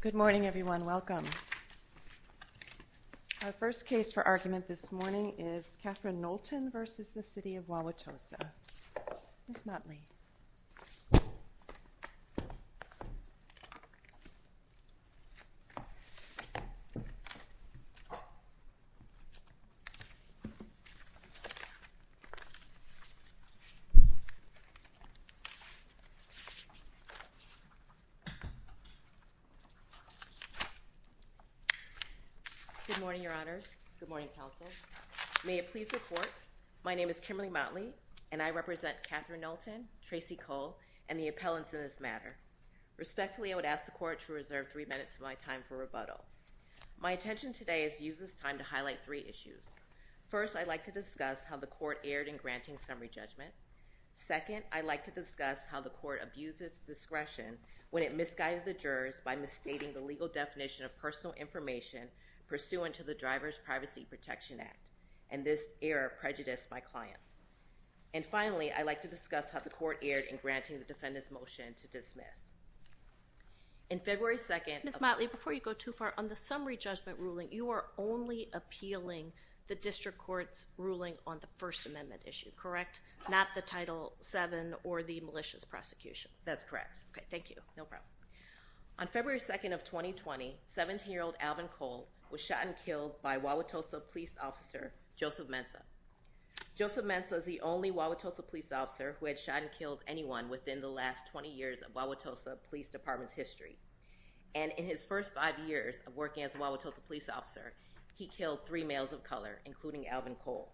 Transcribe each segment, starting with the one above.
Good morning everyone. Welcome. Our first case for argument this morning is Catherine Knowlton v. the City of Wauwatosa. Good morning, your honors. Good morning, counsel. May it please the court, my name is Kimberly Motley and I represent Catherine Knowlton, Tracy Cole, and the appellants in this matter. Respectfully, I would ask the court to reserve three minutes of my time for rebuttal. My intention today is to use this time to highlight three issues. First, I'd like to discuss how the court erred in granting summary judgment. Second, I'd like to discuss how the court abuses discretion when it misguided the jurors by misstating the legal definition of personal information pursuant to the Driver's Privacy Protection Act, and this error prejudiced my clients. And finally, I'd like to discuss how the court erred in granting the defendant's motion to dismiss. In February 2nd—Ms. Motley, before you go too far, on the summary judgment ruling, you are only appealing the district court's ruling on the First Amendment issue, correct? Not the Title VII or the malicious prosecution? That's correct. Okay, thank you, no problem. On February 2nd of 2020, 17-year-old Alvin Cole was shot and killed by Wauwatosa police officer Joseph Mensah. Joseph Mensah is the only Wauwatosa police officer who had shot and killed anyone within the last 20 years of Wauwatosa Police Department's history. And in his first five years of working as a Wauwatosa police officer, he killed three males of color, including Alvin Cole.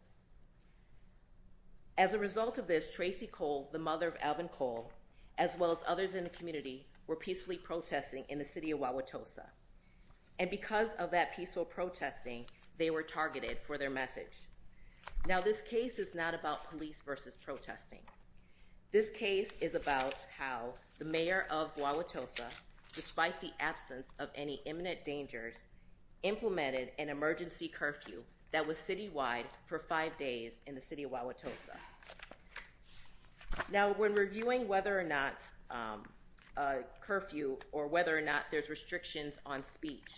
As a result of this, Tracy Cole, the mother of Alvin Cole, as well as others in the community, were peacefully protesting in the city of Wauwatosa. And because of that peaceful protesting, they were targeted for their message. Now, this case is not about police versus protesting. This case is about how the mayor of Wauwatosa, despite the absence of any imminent dangers, implemented an emergency curfew that was citywide for five days in the city of Wauwatosa. Now, when reviewing whether or not a curfew or whether or not there's restrictions on speech,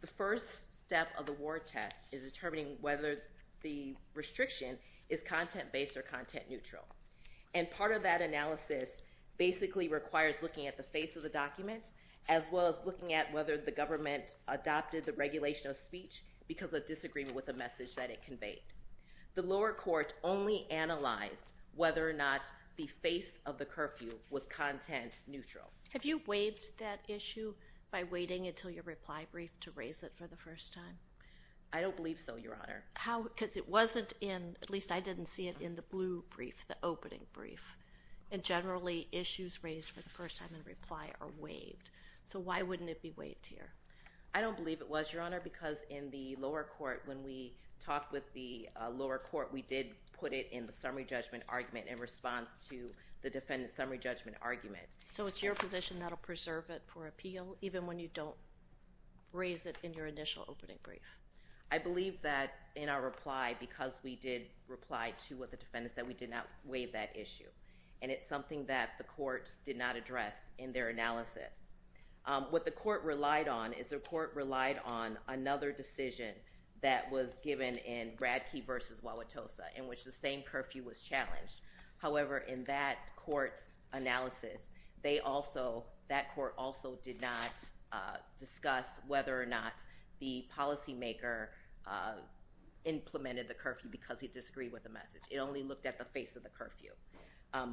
the first step of the war test is determining whether the restriction is content-based or content-neutral. And part of that analysis basically requires looking at the face of the document, as well as looking at whether the government adopted the regulation of speech because of disagreement with the message that it conveyed. The lower court only analyzed whether or not the face of the curfew was content-neutral. Have you waived that issue by waiting until your reply brief to raise it for the first time? I don't believe so, Your Honor. How? Because it wasn't in, at least I didn't see it in the blue brief, the opening brief. And generally, issues raised for the first time in reply are waived. So why wouldn't it be waived here? I don't believe it was, Your Honor, because in the lower court, when we talked with the lower court, we did put it in the summary judgment argument in response to the defendant's summary judgment argument. So it's your position that'll preserve it for appeal, even when you don't raise it in your initial opening brief? I believe that in our reply, because we did reply to the defendants that we did not waive that issue. And it's something that the court did not address in their analysis. What the court relied on is the court relied on another decision that was given in Bradkey v. Wauwatosa in which the same curfew was challenged. However, in that court's analysis, they also, that court also did not discuss whether or not the policymaker implemented the curfew because he disagreed with the message. It only looked at the face of the curfew.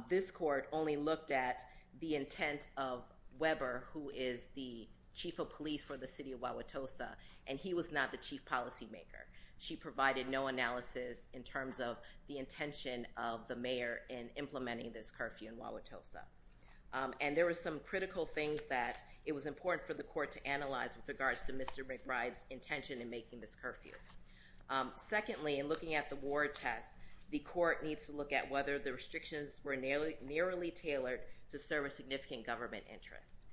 This court only looked at the intent of Weber, who is the chief of police for the city of Wauwatosa, and he was not the chief policymaker. She provided no analysis in terms of the intention of the mayor in implementing this curfew in Wauwatosa. And there were some critical things that it was important for the court to analyze with regards to Mr. McBride's intention in making this curfew. Secondly, in looking at the war test, the court needs to look at whether the restrictions were narrowly tailored to serve a significant government interest.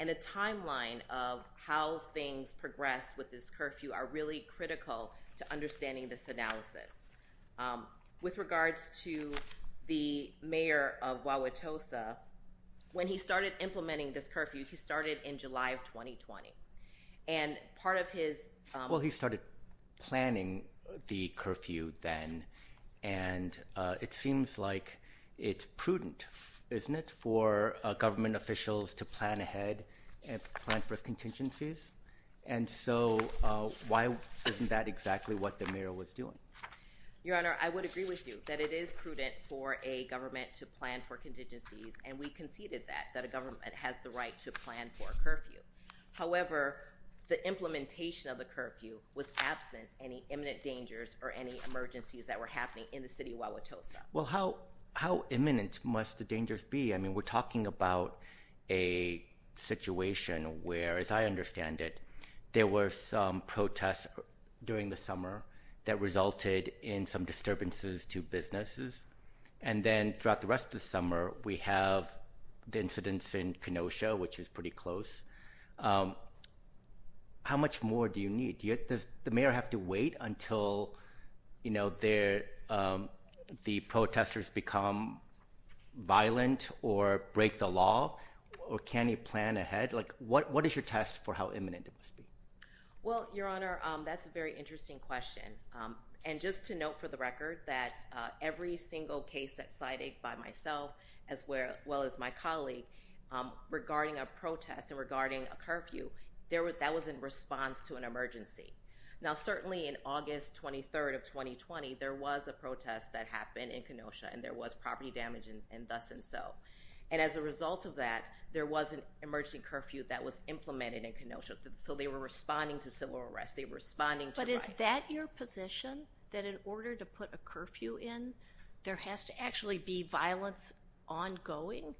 And a timeline of how things progress with this curfew are really critical to understanding this analysis. With regards to the mayor of Wauwatosa, when he started implementing this curfew, he started it in July of 2020. And part of his... Well, he started planning the curfew then, and it seems like it's prudent, isn't it, for government officials to plan ahead and plan for contingencies? And so why isn't that exactly what the mayor was doing? Your Honor, I would agree with you that it is prudent for a government to plan for contingencies, and we conceded that, that a government has the right to plan for a curfew. However, the implementation of the curfew was absent any imminent dangers or any emergencies that were happening in the city of Wauwatosa. Well, how imminent must the dangers be? We're talking about a situation where, as I understand it, there were some protests during the summer that resulted in some disturbances to businesses. And then throughout the rest of the summer, we have the incidents in Kenosha, which is pretty close. How much more do you need? Does the mayor have to wait until the protesters become violent or break the law, or can he plan ahead? What is your test for how imminent it must be? Well, Your Honor, that's a very interesting question. And just to note for the record that every single case that's cited by myself, as well as my colleague, regarding a protest and regarding a curfew, that was in response to an emergency. Now, certainly in August 23rd of 2020, there was a protest that happened in Kenosha, and there was property damage and thus and so. And as a result of that, there was an emergency curfew that was implemented in Kenosha. So they were responding to civil arrest. They were responding to rioting. Is it your position that in order to put a curfew in, there has to actually be violence ongoing?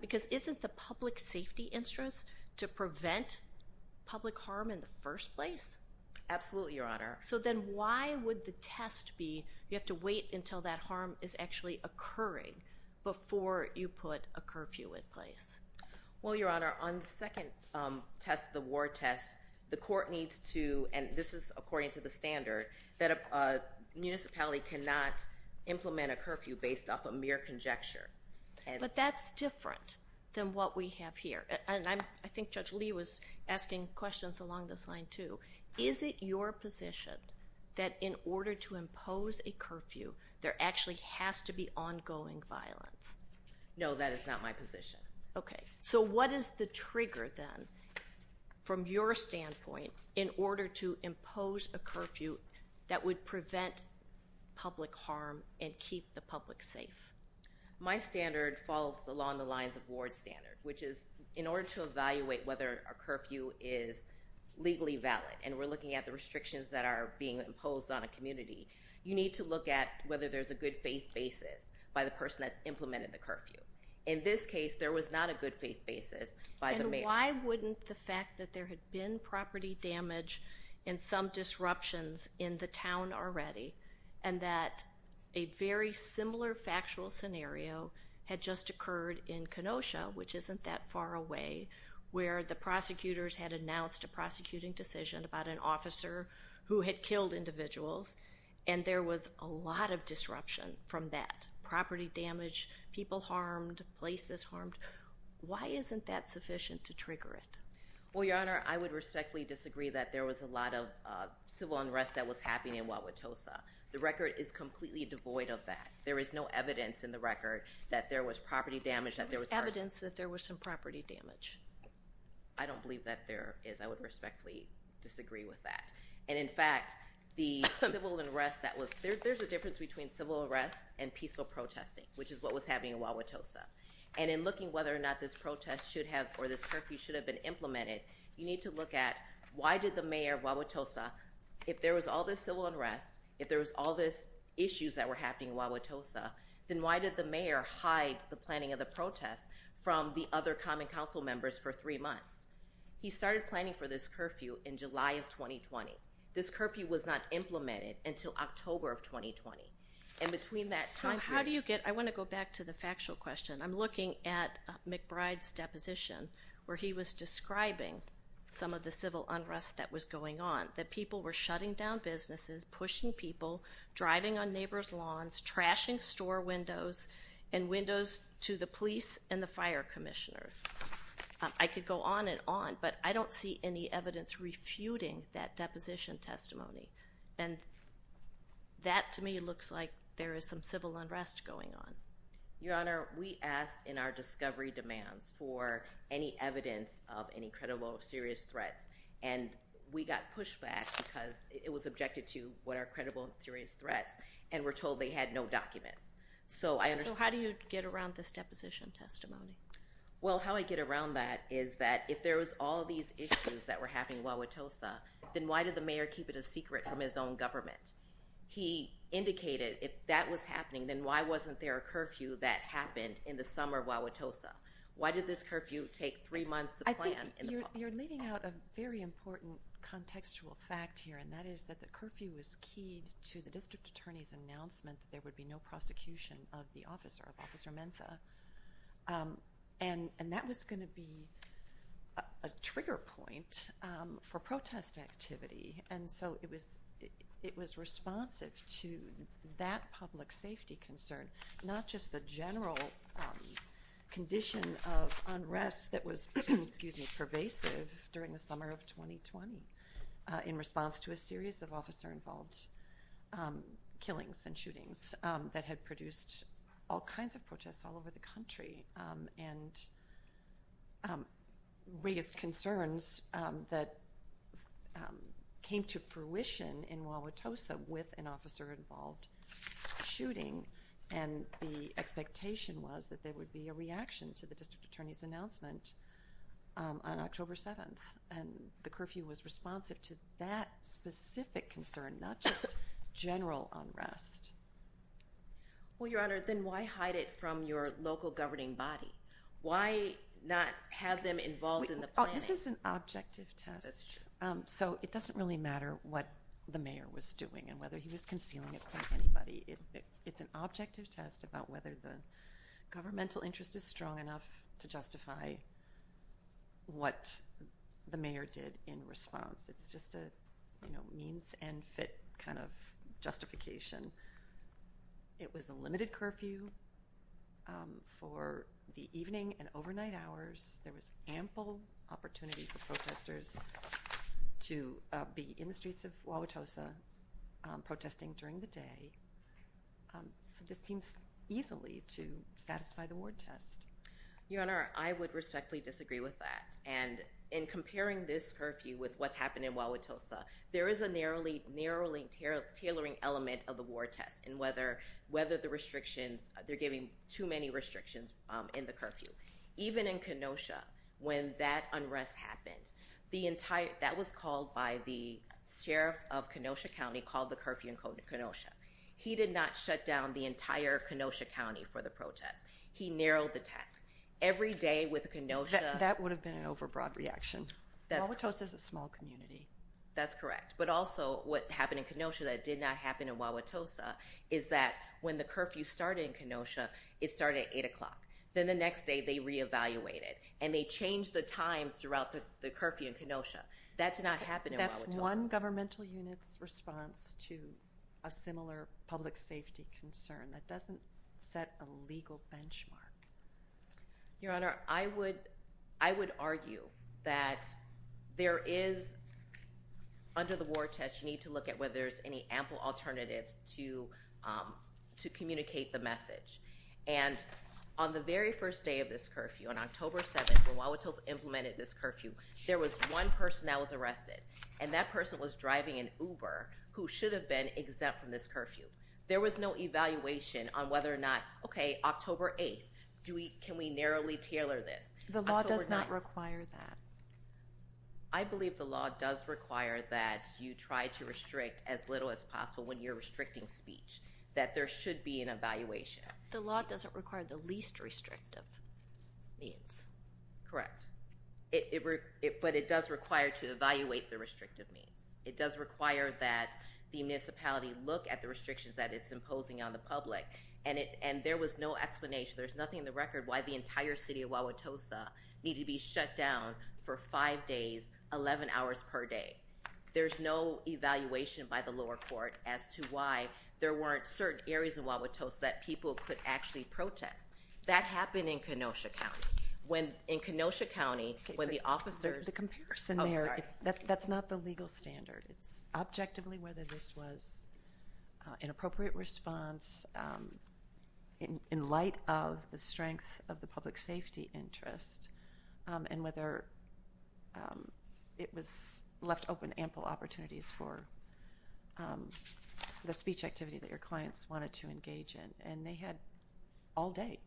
Because isn't the public safety interest to prevent public harm in the first place? Absolutely, Your Honor. So then why would the test be, you have to wait until that harm is actually occurring before you put a curfew in place? Well, Your Honor, on the second test, the war test, the court needs to, and this is according to the standard, that a municipality cannot implement a curfew based off of mere conjecture. But that's different than what we have here. And I think Judge Lee was asking questions along this line, too. Is it your position that in order to impose a curfew, there actually has to be ongoing violence? No, that is not my position. Okay. So what is the trigger then, from your standpoint, in order to impose a curfew that would prevent public harm and keep the public safe? My standard falls along the lines of Ward's standard, which is in order to evaluate whether a curfew is legally valid, and we're looking at the restrictions that are being imposed on a community, you need to look at whether there's a good faith basis by the person that's implemented the curfew. In this case, there was not a good faith basis by the mayor. And why wouldn't the fact that there had been property damage and some disruptions in the town already, and that a very similar factual scenario had just occurred in Kenosha, which isn't that far away, where the prosecutors had announced a prosecuting decision about an officer who had killed individuals, and there was a lot of disruption from that property damage, people harmed, places harmed. Why isn't that sufficient to trigger it? Well, Your Honor, I would respectfully disagree that there was a lot of civil unrest that was happening in Wauwatosa. The record is completely devoid of that. There is no evidence in the record that there was property damage, that there was... There was evidence that there was some property damage. I don't believe that there is. I would respectfully disagree with that. And in fact, the civil unrest and peaceful protesting, which is what was happening in Wauwatosa. And in looking whether or not this protest should have, or this curfew should have been implemented, you need to look at why did the mayor of Wauwatosa, if there was all this civil unrest, if there was all this issues that were happening in Wauwatosa, then why did the mayor hide the planning of the protest from the other common council members for three months? He started planning for this curfew in July of 2020. This curfew was not implemented until October of 2020. And between that time period... So how do you get... I want to go back to the factual question. I'm looking at McBride's deposition where he was describing some of the civil unrest that was going on, that people were shutting down businesses, pushing people, driving on neighbor's lawns, trashing store windows and windows to the police and the fire commissioner. I could go on and on, but I don't see any evidence refuting that deposition testimony. And that, to me, looks like there is some civil unrest going on. Your Honor, we asked in our discovery demands for any evidence of any credible or serious threats, and we got pushback because it was objected to what are credible and serious threats, and we're told they had no documents. So I understand... So how do you get around this deposition testimony? Well, how I get around that is that if there was all these issues that were happening in Wauwatosa, then why did the mayor keep it a secret from his own government? He indicated if that was happening, then why wasn't there a curfew that happened in the summer of Wauwatosa? Why did this curfew take three months to plan in the fall? You're leaving out a very important contextual fact here, and that is that the curfew is key to the district attorney's announcement that there would be no prosecution of the officer, of Officer Mensah. And that was going to be a trigger point for protest activity. And so it was responsive to that public safety concern, not just the general condition of unrest that was pervasive during the summer of 2020 in response to a series of officer-involved killings and shootings that had produced all kinds of protests all over the country and raised concerns that came to fruition in Wauwatosa with an officer-involved shooting. And the expectation was that there would be a reaction to the district attorney's announcement on October 7th. And the curfew was responsive to that specific concern, not just general unrest. Well, Your Honor, then why hide it from your local governing body? Why not have them involved in the planning? This is an objective test. So it doesn't really matter what the mayor was doing and whether he was concealing it from anybody. It's an objective test about whether the governmental interest is strong enough to justify what the mayor did in response. It's just a means and fit kind of justification. It was a limited curfew for the evening and overnight hours. There was ample opportunity for protesters to be in the streets of Wauwatosa protesting during the day. So this seems easily to satisfy the ward test. Your Honor, I would respectfully disagree with that. And in comparing this curfew with what's happened in Wauwatosa, there is a narrowly tailoring element of the ward test in whether the restrictions, they're giving too many restrictions in the curfew. Even in Kenosha, when that unrest happened, that was called by the sheriff of Kenosha County, called the curfew in Kenosha. He did not shut down the entire Kenosha County for the protest. He narrowed the test. Every day with Kenosha- That would have been an overbroad reaction. Wauwatosa is a small community. That's correct. But also what happened in Kenosha that did not happen in Wauwatosa is that when the curfew started in Kenosha, it started at eight o'clock. Then the next day, they reevaluated and they changed the times throughout the curfew in Kenosha. That did not happen in Wauwatosa. That's one governmental unit's response to a similar public safety concern that doesn't set a legal benchmark. Your Honor, I would argue that there is, under the ward test, you need to look at whether there's any ample alternatives to communicate the message. On the very first day of this curfew, on October 7th, when Wauwatosa implemented this curfew, there was one person that was arrested. That person was driving an Uber who should have been exempt from this curfew. There was no evaluation on whether or not, okay, October 8th, can we narrowly tailor this? The law does not require that. I believe the law does require that you try to restrict as little as possible when you're restricting speech, that there should be an evaluation. The law doesn't require the least restrictive means. Correct. But it does require to evaluate the restrictive means. It does require that the municipality look at the restrictions that it's imposing on the public. And there was no explanation. There's nothing in the record why the entire city of Wauwatosa needed to be shut down for five days, 11 hours per day. There's no evaluation by the lower court as to why there weren't certain areas of Wauwatosa that people could actually protest. That happened in Kenosha County. In Kenosha County, when the officers- The comparison there, that's not the legal standard. It's objectively whether this was an appropriate response in light of the strength of the public safety interest and whether it was left open ample opportunities for the speech activity that your clients wanted to engage in. And they had all day.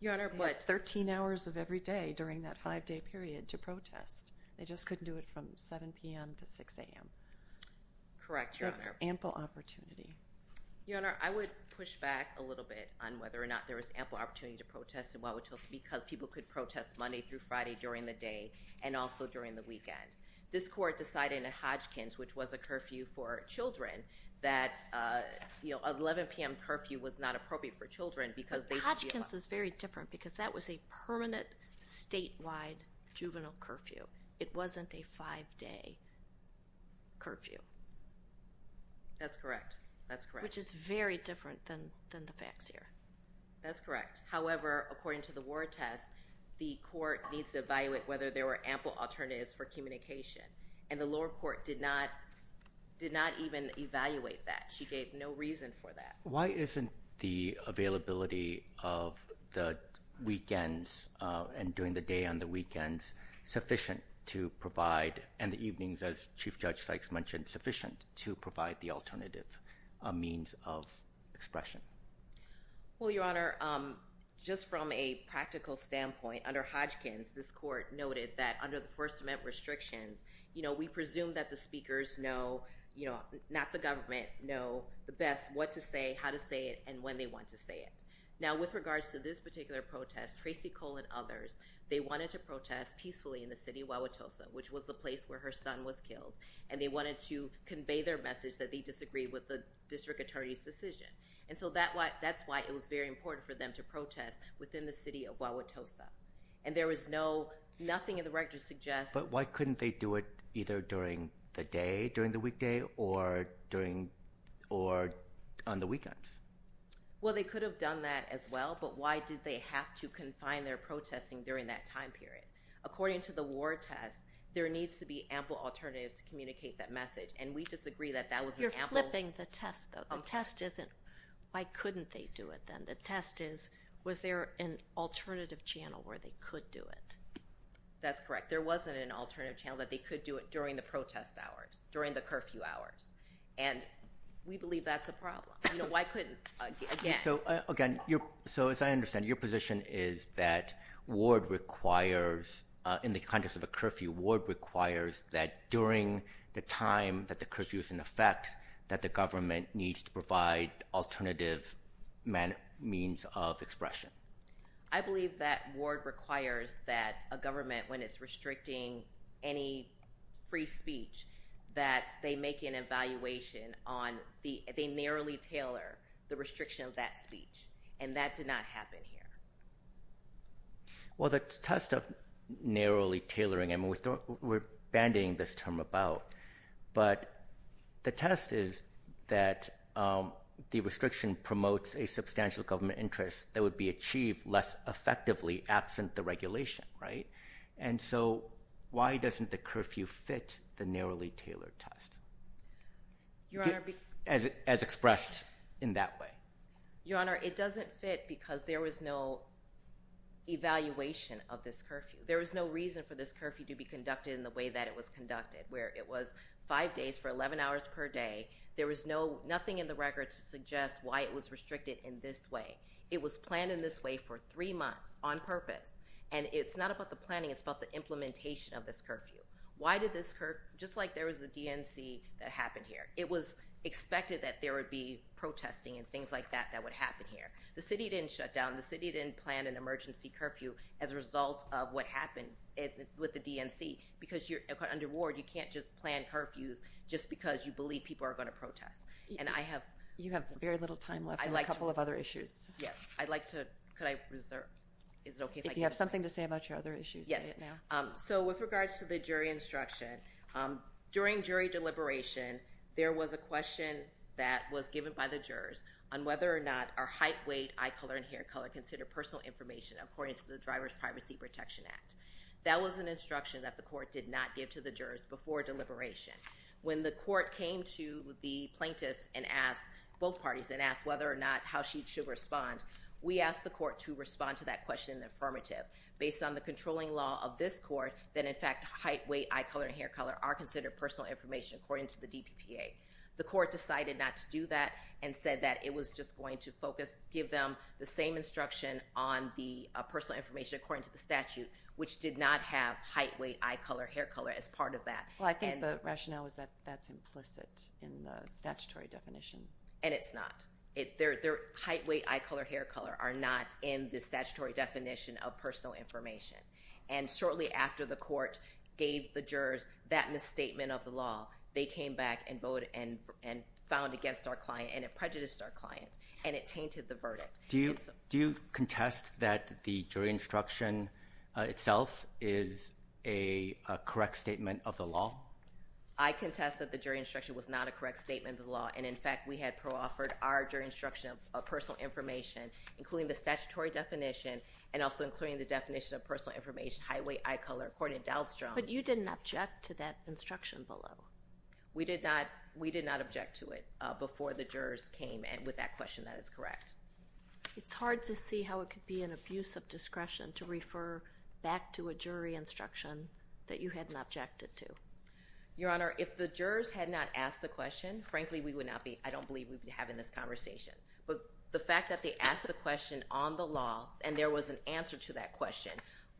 Your Honor, what? 13 hours of every day during that five-day period to protest. They just couldn't do it from 7 p.m. to 6 a.m. Correct, Your Honor. There's ample opportunity. Your Honor, I would push back a little bit on whether or not there was ample opportunity to protest in Wauwatosa because people could protest Monday through Friday during the day and also during the weekend. This court decided in Hodgkins, which was a curfew for children, that 11 p.m. curfew was not appropriate for children because- Hodgkins is very different because that was a permanent statewide juvenile curfew. It wasn't a five-day curfew. That's correct. That's correct. Which is very different than the facts here. That's correct. However, according to the war test, the court needs to evaluate whether there were ample alternatives for communication. And the lower court did not even evaluate that. She gave no reason for that. Why isn't the availability of the weekends and during the day on the weekends sufficient to provide, and the evenings, as Chief Judge Sykes mentioned, sufficient to provide the alternative means of expression? Well, Your Honor, just from a practical standpoint, under Hodgkins, this court noted that under the First Amendment restrictions, we presume that the speakers know, not the government, know the best what to say, how to say it, and when they want to say it. Now, with regards to this particular protest, Tracy Cole and others, they wanted to protest peacefully in the city of Wauwatosa, which was the place where her son was killed. And they wanted to convey their message that they disagreed with the district attorney's decision. And so that's why it was very important for them to protest within the city of Wauwatosa. And there was nothing in But why couldn't they do it either during the day, during the weekday, or on the weekends? Well, they could have done that as well, but why did they have to confine their protesting during that time period? According to the war test, there needs to be ample alternatives to communicate that message. And we disagree that that was an ample— You're flipping the test, though. The test isn't, why couldn't they do it, then? The test is, was there an alternative channel where they could do it? That's correct. There wasn't an alternative channel that they could do it during the protest hours, during the curfew hours. And we believe that's a problem. You know, why couldn't— So, again, so as I understand, your position is that ward requires, in the context of a curfew, ward requires that during the time that the curfew is in effect, that the government needs to provide alternative means of expression. I believe that ward requires that a government, when it's restricting any free speech, that they make an evaluation on the— They narrowly tailor the restriction of that speech, and that did not happen here. Well, the test of narrowly tailoring— I mean, we're bandying this term about, but the test is that the restriction promotes a substantial government interest that would be achieved less effectively absent the regulation, right? And so why doesn't the curfew fit the narrowly tailored test, as expressed in that way? Your Honor, it doesn't fit because there was no evaluation of this curfew. There was no reason for this curfew to be conducted in the way that it was conducted, where it was five days for 11 hours per day. There was nothing in the record to suggest why it was restricted in this way. It was planned in this way for three months on purpose, and it's not about the planning. It's about the implementation of this curfew. Why did this— Just like there was a DNC that happened here. It was expected that there would be protesting and things like that that would happen here. The city didn't shut down. The city didn't plan an emergency curfew as a result of what happened with the DNC. Because you're under war, you can't just plan curfews just because you believe people are going to protest. And I have— You have very little time left. I'd like to— A couple of other issues. Yes. I'd like to— Could I reserve? Is it okay if I— If you have something to say about your other issues, say it now. Yes. So with regards to the jury instruction, during jury deliberation, there was a question that was given by the jurors on whether or not are height, weight, eye color, and hair color considered personal information according to the Driver's Privacy Protection Act. That was an instruction that the court did not give to the jurors before deliberation. When the court came to the plaintiffs and asked both parties and asked whether or not how she should respond, we asked the court to respond to that question in the affirmative. Based on the controlling law of this court, that in fact, height, weight, eye color, and hair color are personal information according to the DPPA. The court decided not to do that and said that it was just going to focus— give them the same instruction on the personal information according to the statute, which did not have height, weight, eye color, hair color as part of that. Well, I think the rationale is that that's implicit in the statutory definition. And it's not. Height, weight, eye color, hair color are not in the statutory definition of personal information. And shortly after the court gave the jurors that misstatement of the law, they came back and voted and found against our client and it prejudiced our client. And it tainted the verdict. Do you contest that the jury instruction itself is a correct statement of the law? I contest that the jury instruction was not a correct statement of the law. And in fact, we had pro-offered our jury instruction of personal information, including the statutory definition and also including the definition of personal information, height, weight, eye color, according to Dahlstrom. But you didn't object to that instruction below? We did not. We did not object to it before the jurors came with that question that is correct. It's hard to see how it could be an abuse of discretion to refer back to a jury instruction that you hadn't objected to. Your Honor, if the jurors had not asked the question, frankly, we would not be— I don't on the law and there was an answer to that question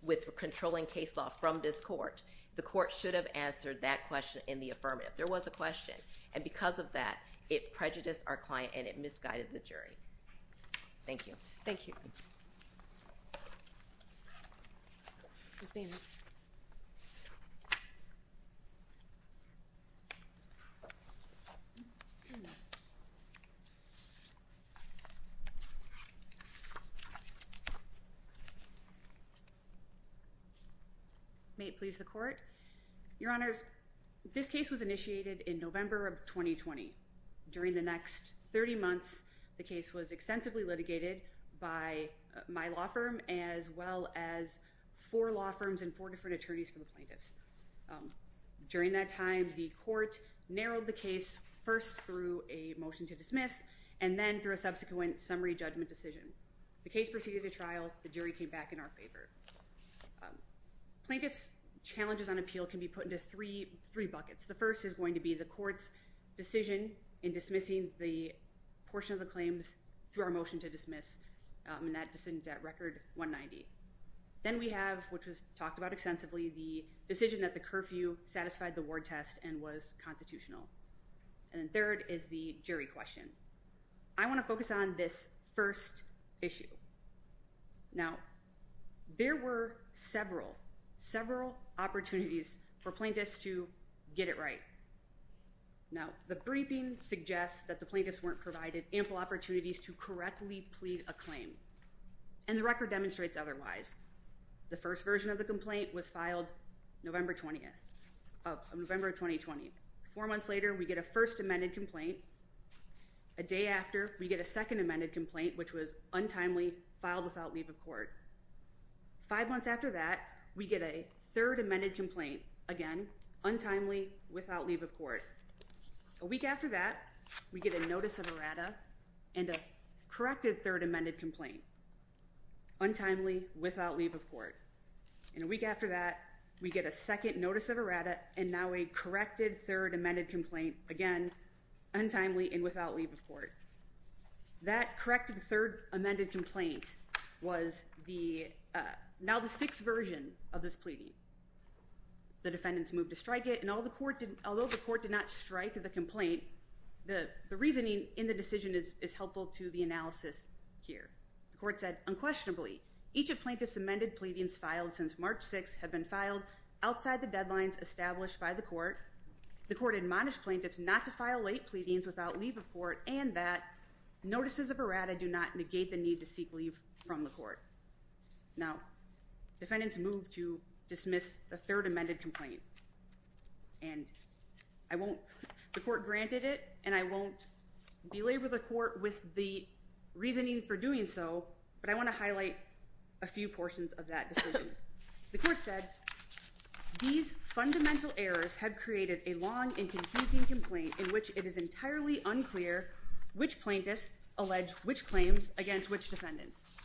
with controlling case law from this court. The court should have answered that question in the affirmative. There was a question. And because of that, it prejudiced our client and it misguided the jury. Thank you. Thank you. May it please the court. Your Honors, this case was initiated in November of 2020. During the next 30 months, the case was extensively litigated by my law firm, as well as four law firms and four different attorneys for the plaintiffs. During that time, the court narrowed the case first through a motion to dismiss, and then through a subsequent summary judgment decision. The case proceeded to trial. The jury came back in our favor. Plaintiffs' challenges on appeal can be put into three buckets. The first is going to be the court's decision in dismissing the portion of the claims through our motion to dismiss, and that decision is at Record 190. Then we have, which was talked about extensively, the decision that the curfew satisfied the ward test and was constitutional. And then third is the jury question. I want to focus on this first issue. Now, there were several, several opportunities for plaintiffs to get it right. Now, the briefing suggests that the plaintiffs weren't provided ample opportunities to correctly plead a claim, and the record demonstrates otherwise. The first version of the complaint was filed November 20th, of November 2020. Four months later, we get a first amended complaint, a day after, we get a second amended complaint, which was untimely, filed without leave of court. Five months after that, we get a third amended complaint, again, untimely, without leave of court. A week after that, we get a notice of errata, and a corrected third amended complaint, untimely, without leave of court. And a week after that, we get a second notice of errata, and now a corrected third amended complaint, again, untimely, and without leave of court. That corrected third amended complaint was now the sixth version of this pleading. The defendants moved to strike it, and although the court did not strike the complaint, the reasoning in the decision is helpful to the analysis here. The court said, unquestionably, each of plaintiff's amended pleadings filed since March 6th have been filed outside the deadlines established by the court. The court admonished plaintiffs not to file late pleadings without leave of court, and that notices of errata do not negate the need to seek leave from the court. Now, defendants moved to dismiss the third amended complaint, and I won't, the court granted it, and I won't belabor the court with the reasoning for doing so, but I want to highlight a few portions of that decision. The court said, these fundamental errors have created a long and confusing complaint in which it is entirely unclear which plaintiffs allege which claims against which defendants.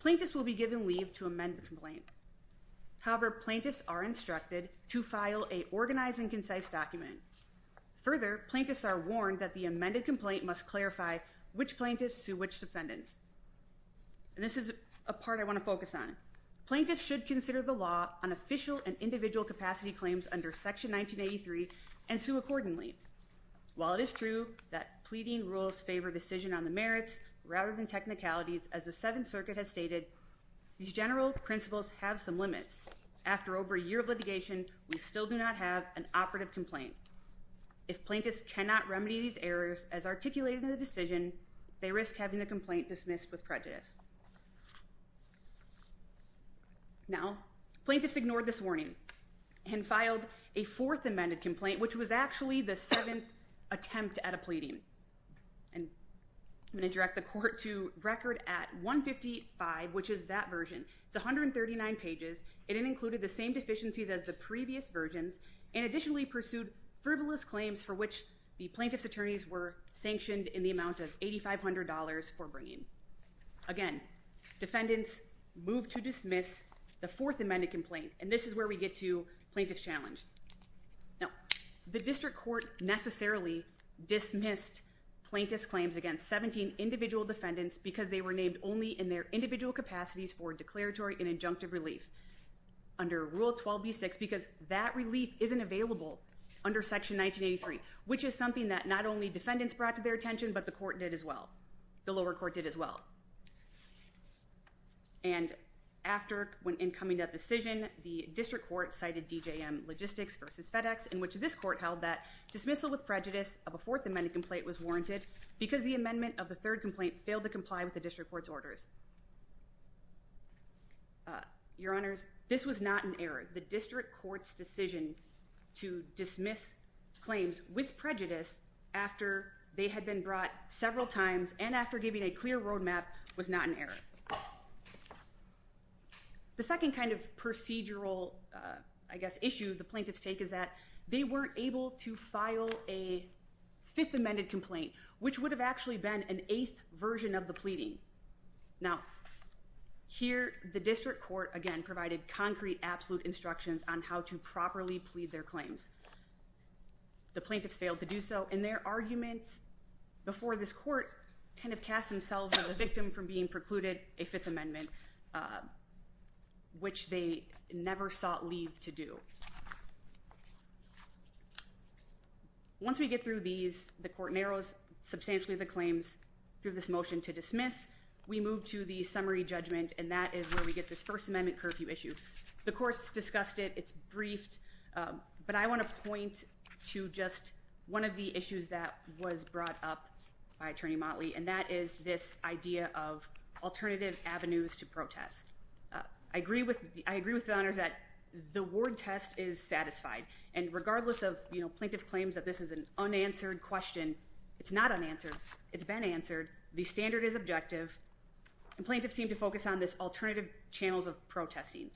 Plaintiffs will be given leave to amend the complaint. However, plaintiffs are instructed to file a organized and concise document. Further, plaintiffs are warned that the amended complaint must clarify which plaintiffs sue which defendants. And this is a part I want to focus on. Plaintiffs should consider the law on official and individual capacity claims under Section 1983 and sue accordingly. While it is true that pleading rules favor decision on the merits rather than technicalities, as the Seventh Circuit has stated, these general principles have some limits. After over a year of litigation, we still do not have an operative complaint. If plaintiffs cannot remedy these errors as articulated in the decision, they risk having the complaint dismissed with prejudice. Now, plaintiffs ignored this warning and filed a fourth amended complaint, which was actually the seventh attempt at a pleading. And I'm going to direct the court to record at 155, which is that version. It's 139 pages. It included the same deficiencies as the previous versions and additionally pursued frivolous claims for which the plaintiff's attorneys were sanctioned in the amount of $8,500 for bringing. Again, defendants moved to dismiss the fourth amended complaint. And this is where we get to plaintiff's challenge. Now, the district court necessarily dismissed plaintiff's claims against 17 individual defendants because they were named only in their individual capacities for declaratory and injunctive relief under Rule 12b-6 because that relief isn't available under Section 1983, which is something that not only defendants brought to their attention, but the court did as well. The lower court did as well. And after incoming that decision, the district court cited DJM Logistics versus FedEx, in which this court held that dismissal with prejudice of a fourth amended complaint was warranted because the amendment of the third complaint failed to comply with the district court's orders. Your honors, this was not an error. The district court's decision to dismiss claims with prejudice after they had been brought several times and after giving a clear roadmap was not an error. The second kind of procedural, I guess, issue the plaintiffs take is that they weren't able to file a fifth amended complaint, which would have actually been an eighth version of the pleading. Now, here, the district court, again, provided concrete, absolute instructions on how to properly plead their claims. The plaintiffs failed to do so in their arguments before this court kind of cast themselves as a victim from being precluded a fifth amendment, which they never sought leave to do. Once we get through these, the court narrows substantially the claims through this motion to dismiss. We move to the summary judgment, and that is where we get this first amendment curfew issue. The courts discussed it. It's briefed, but I want to point to just one of the issues that was brought up by attorney Motley, and that is this idea of alternative avenues to protest. I agree with the honors that the ward test is satisfied, and regardless of plaintiff claims that this is an unanswered question, it's not unanswered. It's been answered. The standard is objective, and plaintiffs seem to focus on this alternative channels of protesting.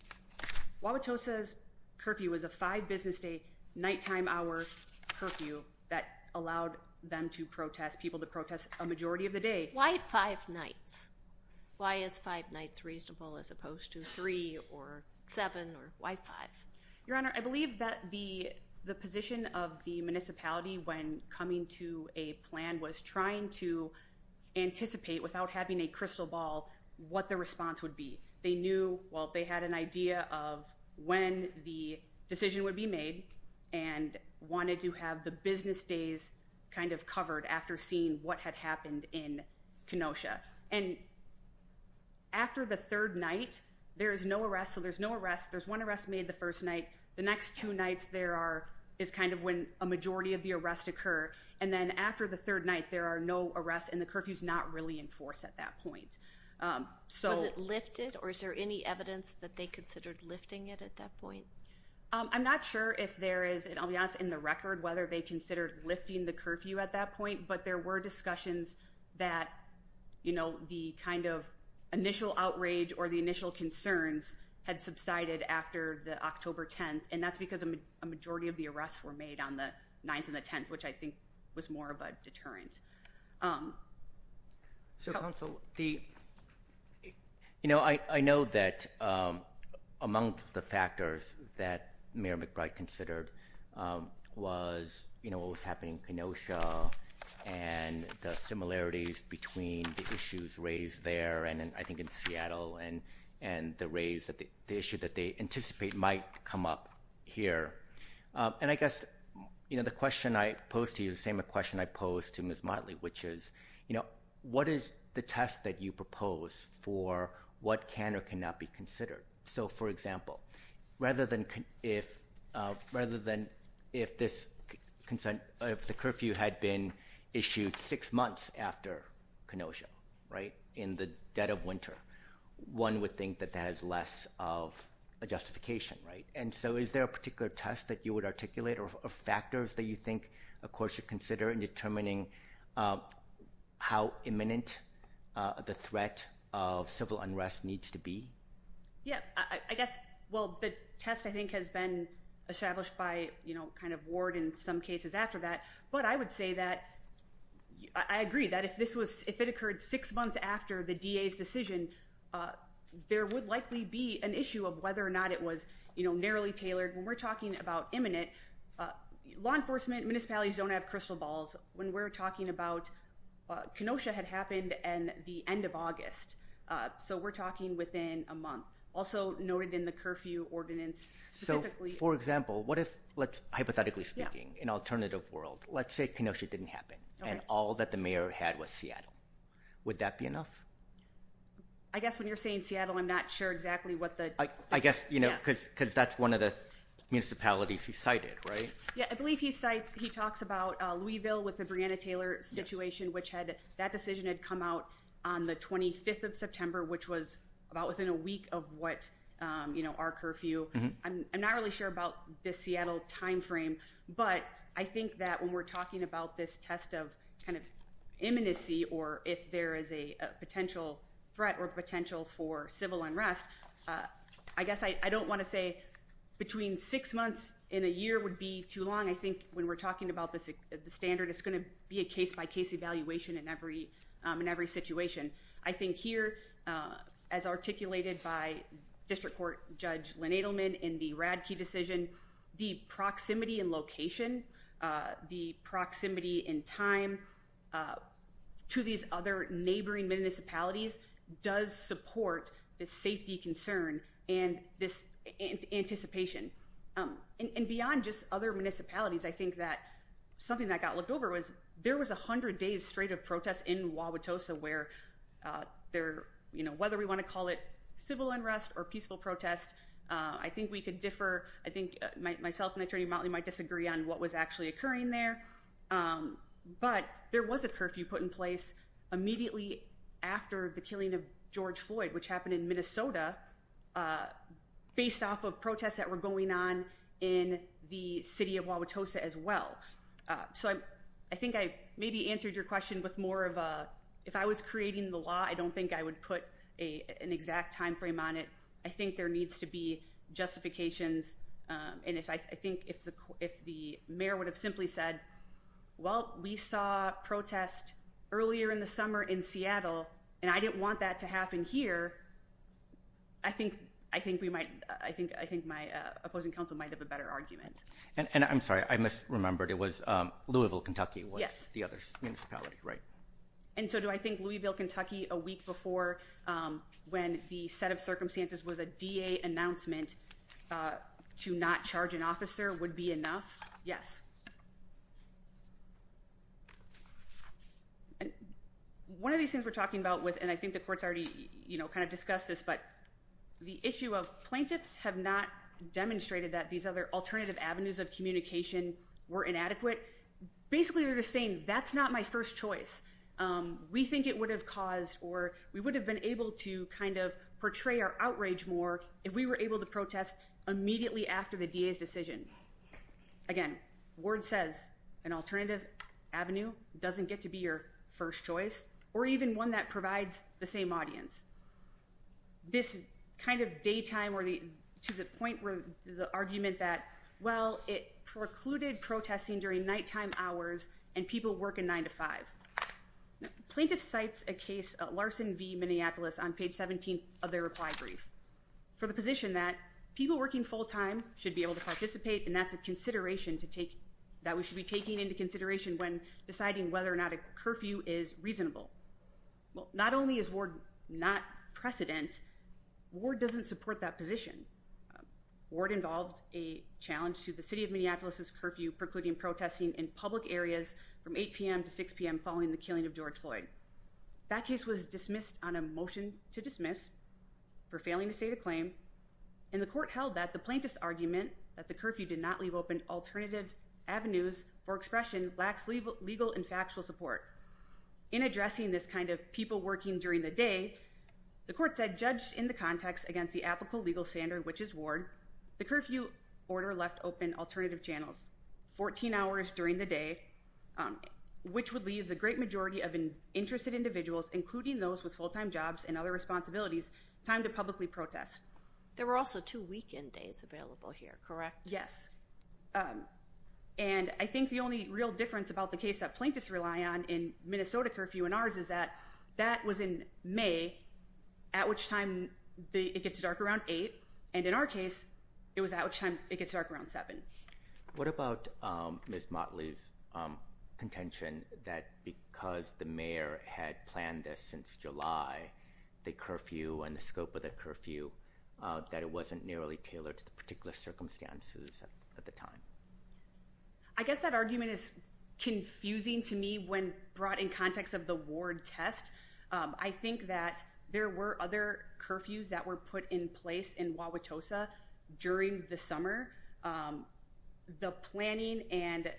Wauwatosa's curfew was a five business day nighttime hour curfew that allowed them to protest people to protest a majority of the day. Why five nights? Why is five nights reasonable as opposed to three or seven or why five? Your honor, I believe that the position of the municipality when coming to a plan was trying to anticipate without having a crystal ball what the response would be. They knew, well, they had an idea of when the decision would be made and wanted to have the business days kind of covered after seeing what had happened in Kenosha, and after the third night, there is no arrest, so there's no arrest. There's one arrest made the first night. The next two nights there are is kind of when a majority of the arrest occur, and then after the third night, there are no arrests, and the curfew's not really enforced at that point. Was it lifted, or is there any evidence that they considered lifting it at that point? I'm not sure if there is, and I'll be honest, in the record whether they considered lifting the curfew at that point, but there were discussions that the kind of initial outrage or the initial concerns had subsided after the October 10th, and that's because a majority of the arrests were made on the 9th and the 10th, which I think was more of a deterrent. Counsel, I know that among the factors that Mayor McBride considered was what was happening in Kenosha and the similarities between the issues raised there, and I think in Seattle, and the raise, the issue that they anticipate might come up here, and I guess the question I posed to you is the same question I posed to Ms. Motley, which is what is the test that you propose for what can or cannot be considered? So, for example, rather than if the curfew had been issued six months after Kenosha, in the dead of winter, one would think that that is less of a justification, and so is there a particular test that you would articulate or factors that you think a court should consider in determining how imminent the threat of civil unrest needs to be? Yeah, I guess, well, the test, I think, has been established by kind of Ward in some cases after that, but I would say that I agree that if it occurred six months after the DA's decision, there would likely be an issue of whether or not it was narrowly tailored. When we're talking about imminent, law enforcement, municipalities don't have crystal balls. When we're talking about Kenosha had happened in the end of August, so we're talking within a month. Also noted in the curfew ordinance, specifically. For example, what if, hypothetically speaking, an alternative world, let's say Kenosha didn't happen, and all that the mayor had was Seattle. Would that be enough? I guess when you're saying Seattle, I'm not sure exactly what the. I guess, you know, because that's one of the municipalities he cited, right? Yeah, I believe he cites, he talks about Louisville with the Breanna Taylor situation, which had, that decision had come out on the 25th of September, which was about within a week of what, you know, our curfew. I'm not really sure about the Seattle time frame, but I think that when we're talking about this test of kind of imminency, or if there is a potential threat or potential for civil unrest. I guess I don't want to say between six months in a year would be too long. I think when we're talking about this standard, it's going to be a case by case evaluation in every in every situation. I think here, as articulated by District Court Judge Lynn Edelman in the Radke decision, the proximity and location, the proximity in time to these other neighboring municipalities does support the safety concern and this anticipation. And beyond just other municipalities, I think that something that got looked over was there was 100 days straight of protests in Wauwatosa where there, you know, whether we want to call it civil unrest or peaceful protest, I think we could differ. I think myself and Attorney Motley might disagree on what was actually occurring there. But there was a curfew put in place immediately after the killing of George Floyd, which happened in Minnesota, based off of protests that were going on in the city of Wauwatosa as well. So I think I maybe answered your question with more of a if I was creating the law, I don't think I would put a an exact time frame on it. I think there needs to be justifications. And if I think if the if the mayor would have simply said, well, we saw protests earlier in the summer in Seattle and I didn't want that to happen here, I think I think we might I think I think my opposing counsel might have a better argument. And I'm sorry, I misremembered. It was Louisville, Kentucky, was the other municipality, right? And so do I think Louisville, Kentucky, a week before when the set of circumstances was a D.A. announcement to not charge an officer would be enough? Yes. And one of these things we're talking about with and I think the court's already, you know, kind of discussed this, but the issue of plaintiffs have not demonstrated that these other alternative avenues of communication were inadequate. Basically, they're just saying that's not my first choice. We think it would have caused or we would have been able to kind of portray our outrage more if we were able to protest immediately after the D.A.'s decision. Again, word says an alternative avenue doesn't get to be your first choice or even one that provides the same audience. This kind of daytime or to the point where the argument that, well, it precluded protesting during nighttime hours and people work in nine to five. Plaintiff cites a case at Larson v. Minneapolis on page 17 of their reply brief for the position that people working full time should be able to participate. And that's a consideration to take that we should be taking into consideration when deciding whether or not a curfew is reasonable. Well, not only is Ward not precedent, Ward doesn't support that position. Ward involved a challenge to the city of Minneapolis' curfew precluding protesting in public areas from 8 p.m. to 6 p.m. following the killing of George Floyd. That case was dismissed on a motion to dismiss for failing to state a claim and the court held that the plaintiff's argument that the curfew did not leave open alternative avenues or expression lacks legal and factual support. In addressing this kind of people working during the day, the court said, judged in the context against the applicable legal standard, which is Ward, the curfew order left open alternative channels 14 hours during the day, which would leave the great majority of interested individuals, including those with full time jobs and other responsibilities, time to publicly protest. There were also two weekend days available here, correct? Yes. Um, and I think the only real difference about the case that plaintiffs rely on in Minnesota curfew and ours is that that was in May, at which time it gets dark around eight. And in our case, it was at which time it gets dark around seven. What about Ms. Motley's contention that because the mayor had planned this since July, the curfew and the scope of the curfew, that it wasn't nearly tailored to the particular circumstances at the time? I guess that argument is confusing to me when brought in context of the Ward test. I think that there were other curfews that were put in place in Wauwatosa during the The planning and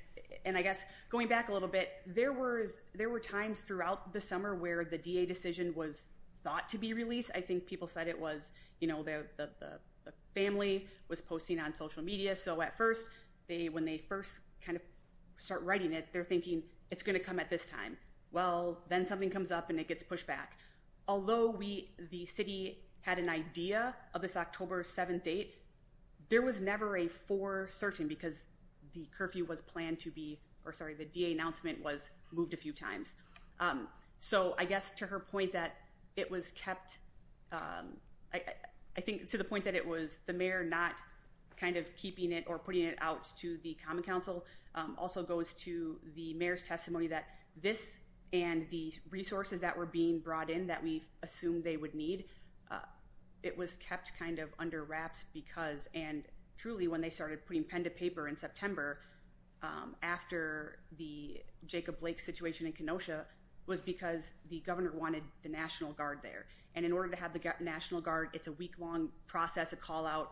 and I guess going back a little bit, there was there were times throughout the summer where the DA decision was thought to be released. I think people said it was, you know, the family was posting on social media. So at first they, when they first kind of start writing it, they're thinking it's going to come at this time. Well, then something comes up and it gets pushed back. Although we, the city had an idea of this October 7th date, there was never a for certain because the curfew was planned to be, or sorry, the DA announcement was moved a few times. So I guess to her point that it was kept, I think to the point that it was the mayor not kind of keeping it or putting it out to the Common Council also goes to the mayor's testimony that this and the resources that were being brought in that we assumed they would need. It was kept kind of under wraps because and truly when they started putting pen to paper in September after the Jacob Blake situation in Kenosha was because the governor wanted the National Guard there. And in order to have the National Guard, it's a week long process, a call out.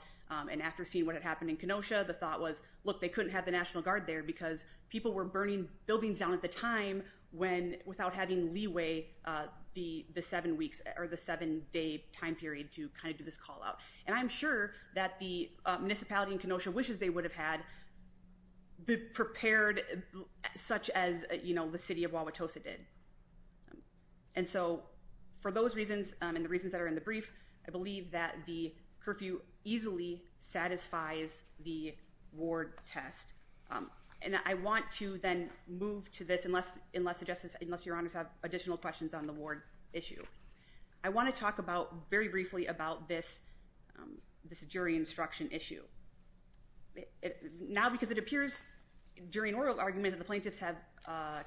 And after seeing what had happened in Kenosha, the thought was, look, they couldn't have the National Guard there because people were burning buildings down at the time when without having leeway the seven weeks or the seven day time period to kind of do this call out. And I'm sure that the municipality in Kenosha wishes they would have had the prepared such as the city of Wauwatosa did. And so for those reasons and the reasons that are in the brief, I believe that the curfew easily satisfies the ward test. And I want to then move to this unless your honors have additional questions on the ward issue. I want to talk about very briefly about this this jury instruction issue now because it appears during oral argument that the plaintiffs have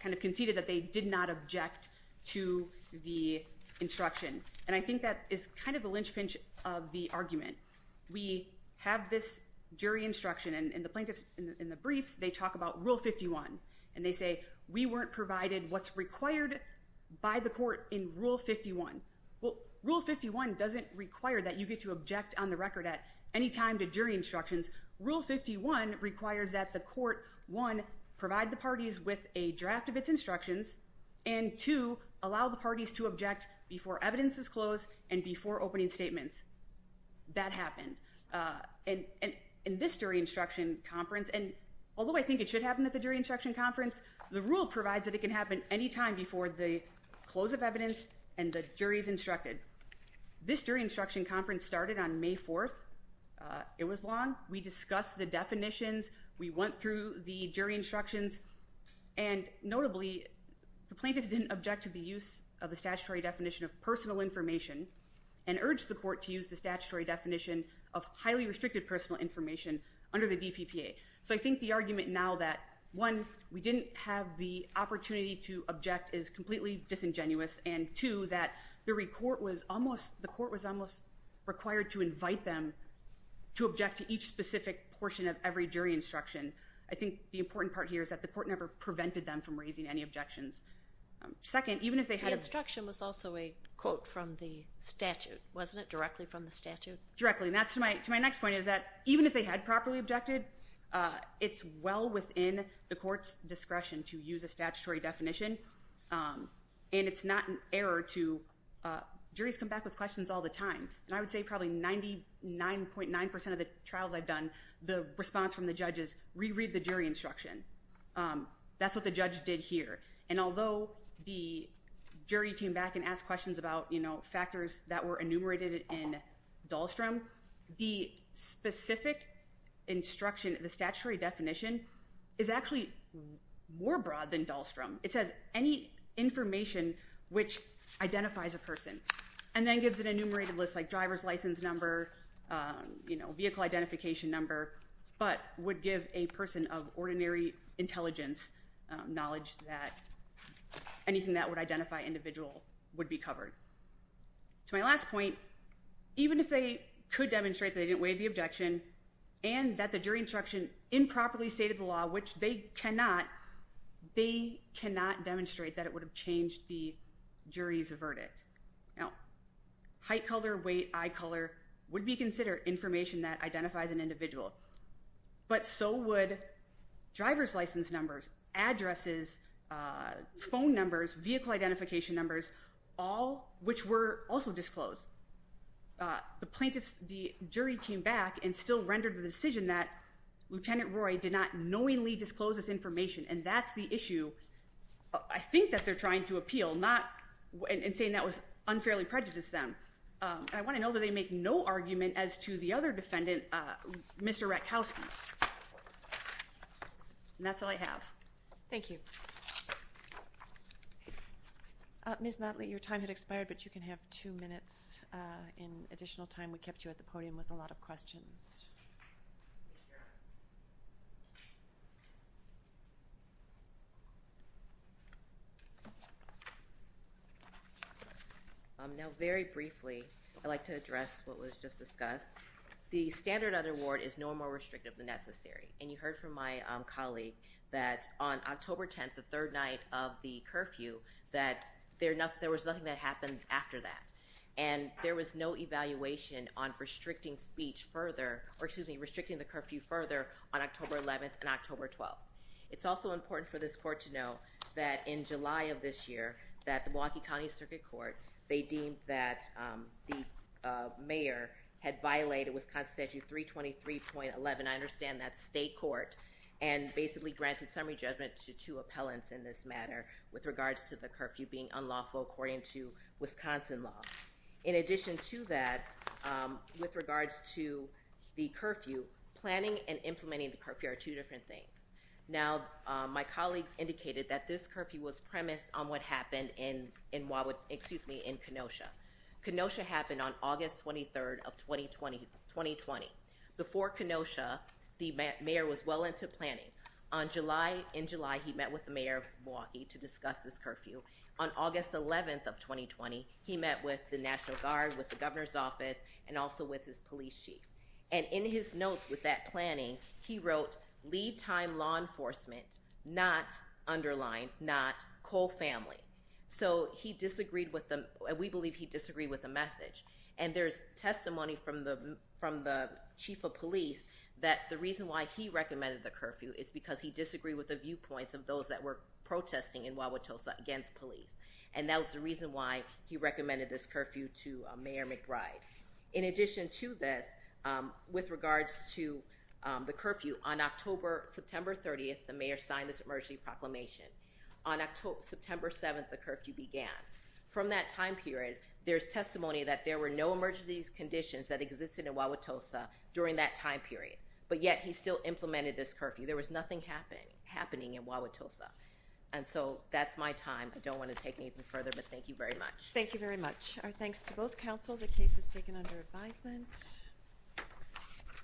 kind of conceded that they did not object to the instruction. And I think that is kind of the linchpin of the argument. We have this jury instruction and the plaintiffs in the briefs, they talk about Rule 51 and they say, we weren't provided what's required by the court in Rule 51. Well, Rule 51 doesn't require that you get to object on the record at any time to jury instructions. Rule 51 requires that the court, one, provide the parties with a draft of its instructions and two, allow the parties to object before evidence is closed and before opening statements. That happened in this jury instruction conference. And although I think it should happen at the jury instruction conference, the rule provides that it can happen any time before the close of evidence and the jury is instructed. This jury instruction conference started on May 4th. It was long. We discussed the definitions. We went through the jury instructions. And notably, the plaintiffs didn't object to the use of the statutory definition of personal information and urged the court to use the statutory definition of highly restricted personal information under the DPPA. I think the argument now that, one, we didn't have the opportunity to object is completely disingenuous and two, that the court was almost required to invite them to object to each specific portion of every jury instruction. I think the important part here is that the court never prevented them from raising any objections. Second, even if they had... The instruction was also a quote from the statute, wasn't it? Directly from the statute? Directly. And that's to my next point, is that even if they had properly objected, it's well within the court's discretion to use a statutory definition. And it's not an error to... Juries come back with questions all the time. And I would say probably 99.9% of the trials I've done, the response from the judge is, re-read the jury instruction. That's what the judge did here. And although the jury came back and asked questions about factors that were enumerated in Dahlstrom, the specific instruction, the statutory definition is actually more broad than Dahlstrom. It says, any information which identifies a person, and then gives an enumerated list like driver's license number, vehicle identification number, but would give a person of ordinary intelligence knowledge that anything that would identify individual would be covered. To my last point, even if they could demonstrate that they didn't waive the objection, and that the jury instruction improperly stated the law, which they cannot, they cannot demonstrate that it would have changed the jury's verdict. Now, height, color, weight, eye color would be considered information that identifies an individual, but so would driver's license numbers, addresses, phone numbers, vehicle identification numbers, all which were also disclosed. The plaintiffs, the jury came back and still rendered the decision that Lieutenant Roy did not knowingly disclose this information, and that's the issue I think that they're trying to appeal, not, and saying that was unfairly prejudiced them. I want to know that they make no argument as to the other defendant, Mr. Ratkowski. And that's all I have. Thank you. Ms. Motley, your time had expired, but you can have two minutes in additional time. We kept you at the podium with a lot of questions. Now, very briefly, I'd like to address what was just discussed. The standard of the award is no more restrictive than necessary, and you heard from my colleague that on October 10th, the third night of the curfew, that there was nothing that happened after that, and there was no evaluation on restricting speech further, or excuse me, restricting the curfew further on October 11th and October 12th. It's also important for this court to know that in July of this year, that the Milwaukee County Circuit Court, they deemed that the mayor had violated Wisconsin Statute 323.11. I understand that state court and basically granted summary judgment to two appellants in this matter with regards to the curfew being unlawful according to Wisconsin law. In addition to that, with regards to the curfew, planning and implementing the curfew are two different things. Now, my colleagues indicated that this curfew was premised on what happened in Kenosha. Kenosha happened on August 23rd of 2020. Before Kenosha, the mayor was well into planning. On July, in July, he met with the mayor of Milwaukee to discuss this curfew. On August 11th of 2020, he met with the National Guard, with the governor's office, and also with his police chief. And in his notes with that planning, he wrote, lead time law enforcement, not underlined, not co-family. So he disagreed with the, we believe he disagreed with the message. And there's testimony from the chief of police that the reason why he recommended the curfew is because he disagreed with the viewpoints of those that were protesting in Wauwatosa against police. And that was the reason why he recommended this curfew to Mayor McBride. In addition to this, with regards to the curfew, on October, September 30th, the mayor signed this emergency proclamation. On September 7th, the curfew began. From that time period, there's testimony that there were no emergency conditions that existed in Wauwatosa during that time period. But yet, he still implemented this curfew. There was nothing happening in Wauwatosa. And so, that's my time. I don't want to take anything further, but thank you very much. Thank you very much. Our thanks to both council. The case is taken under advisement.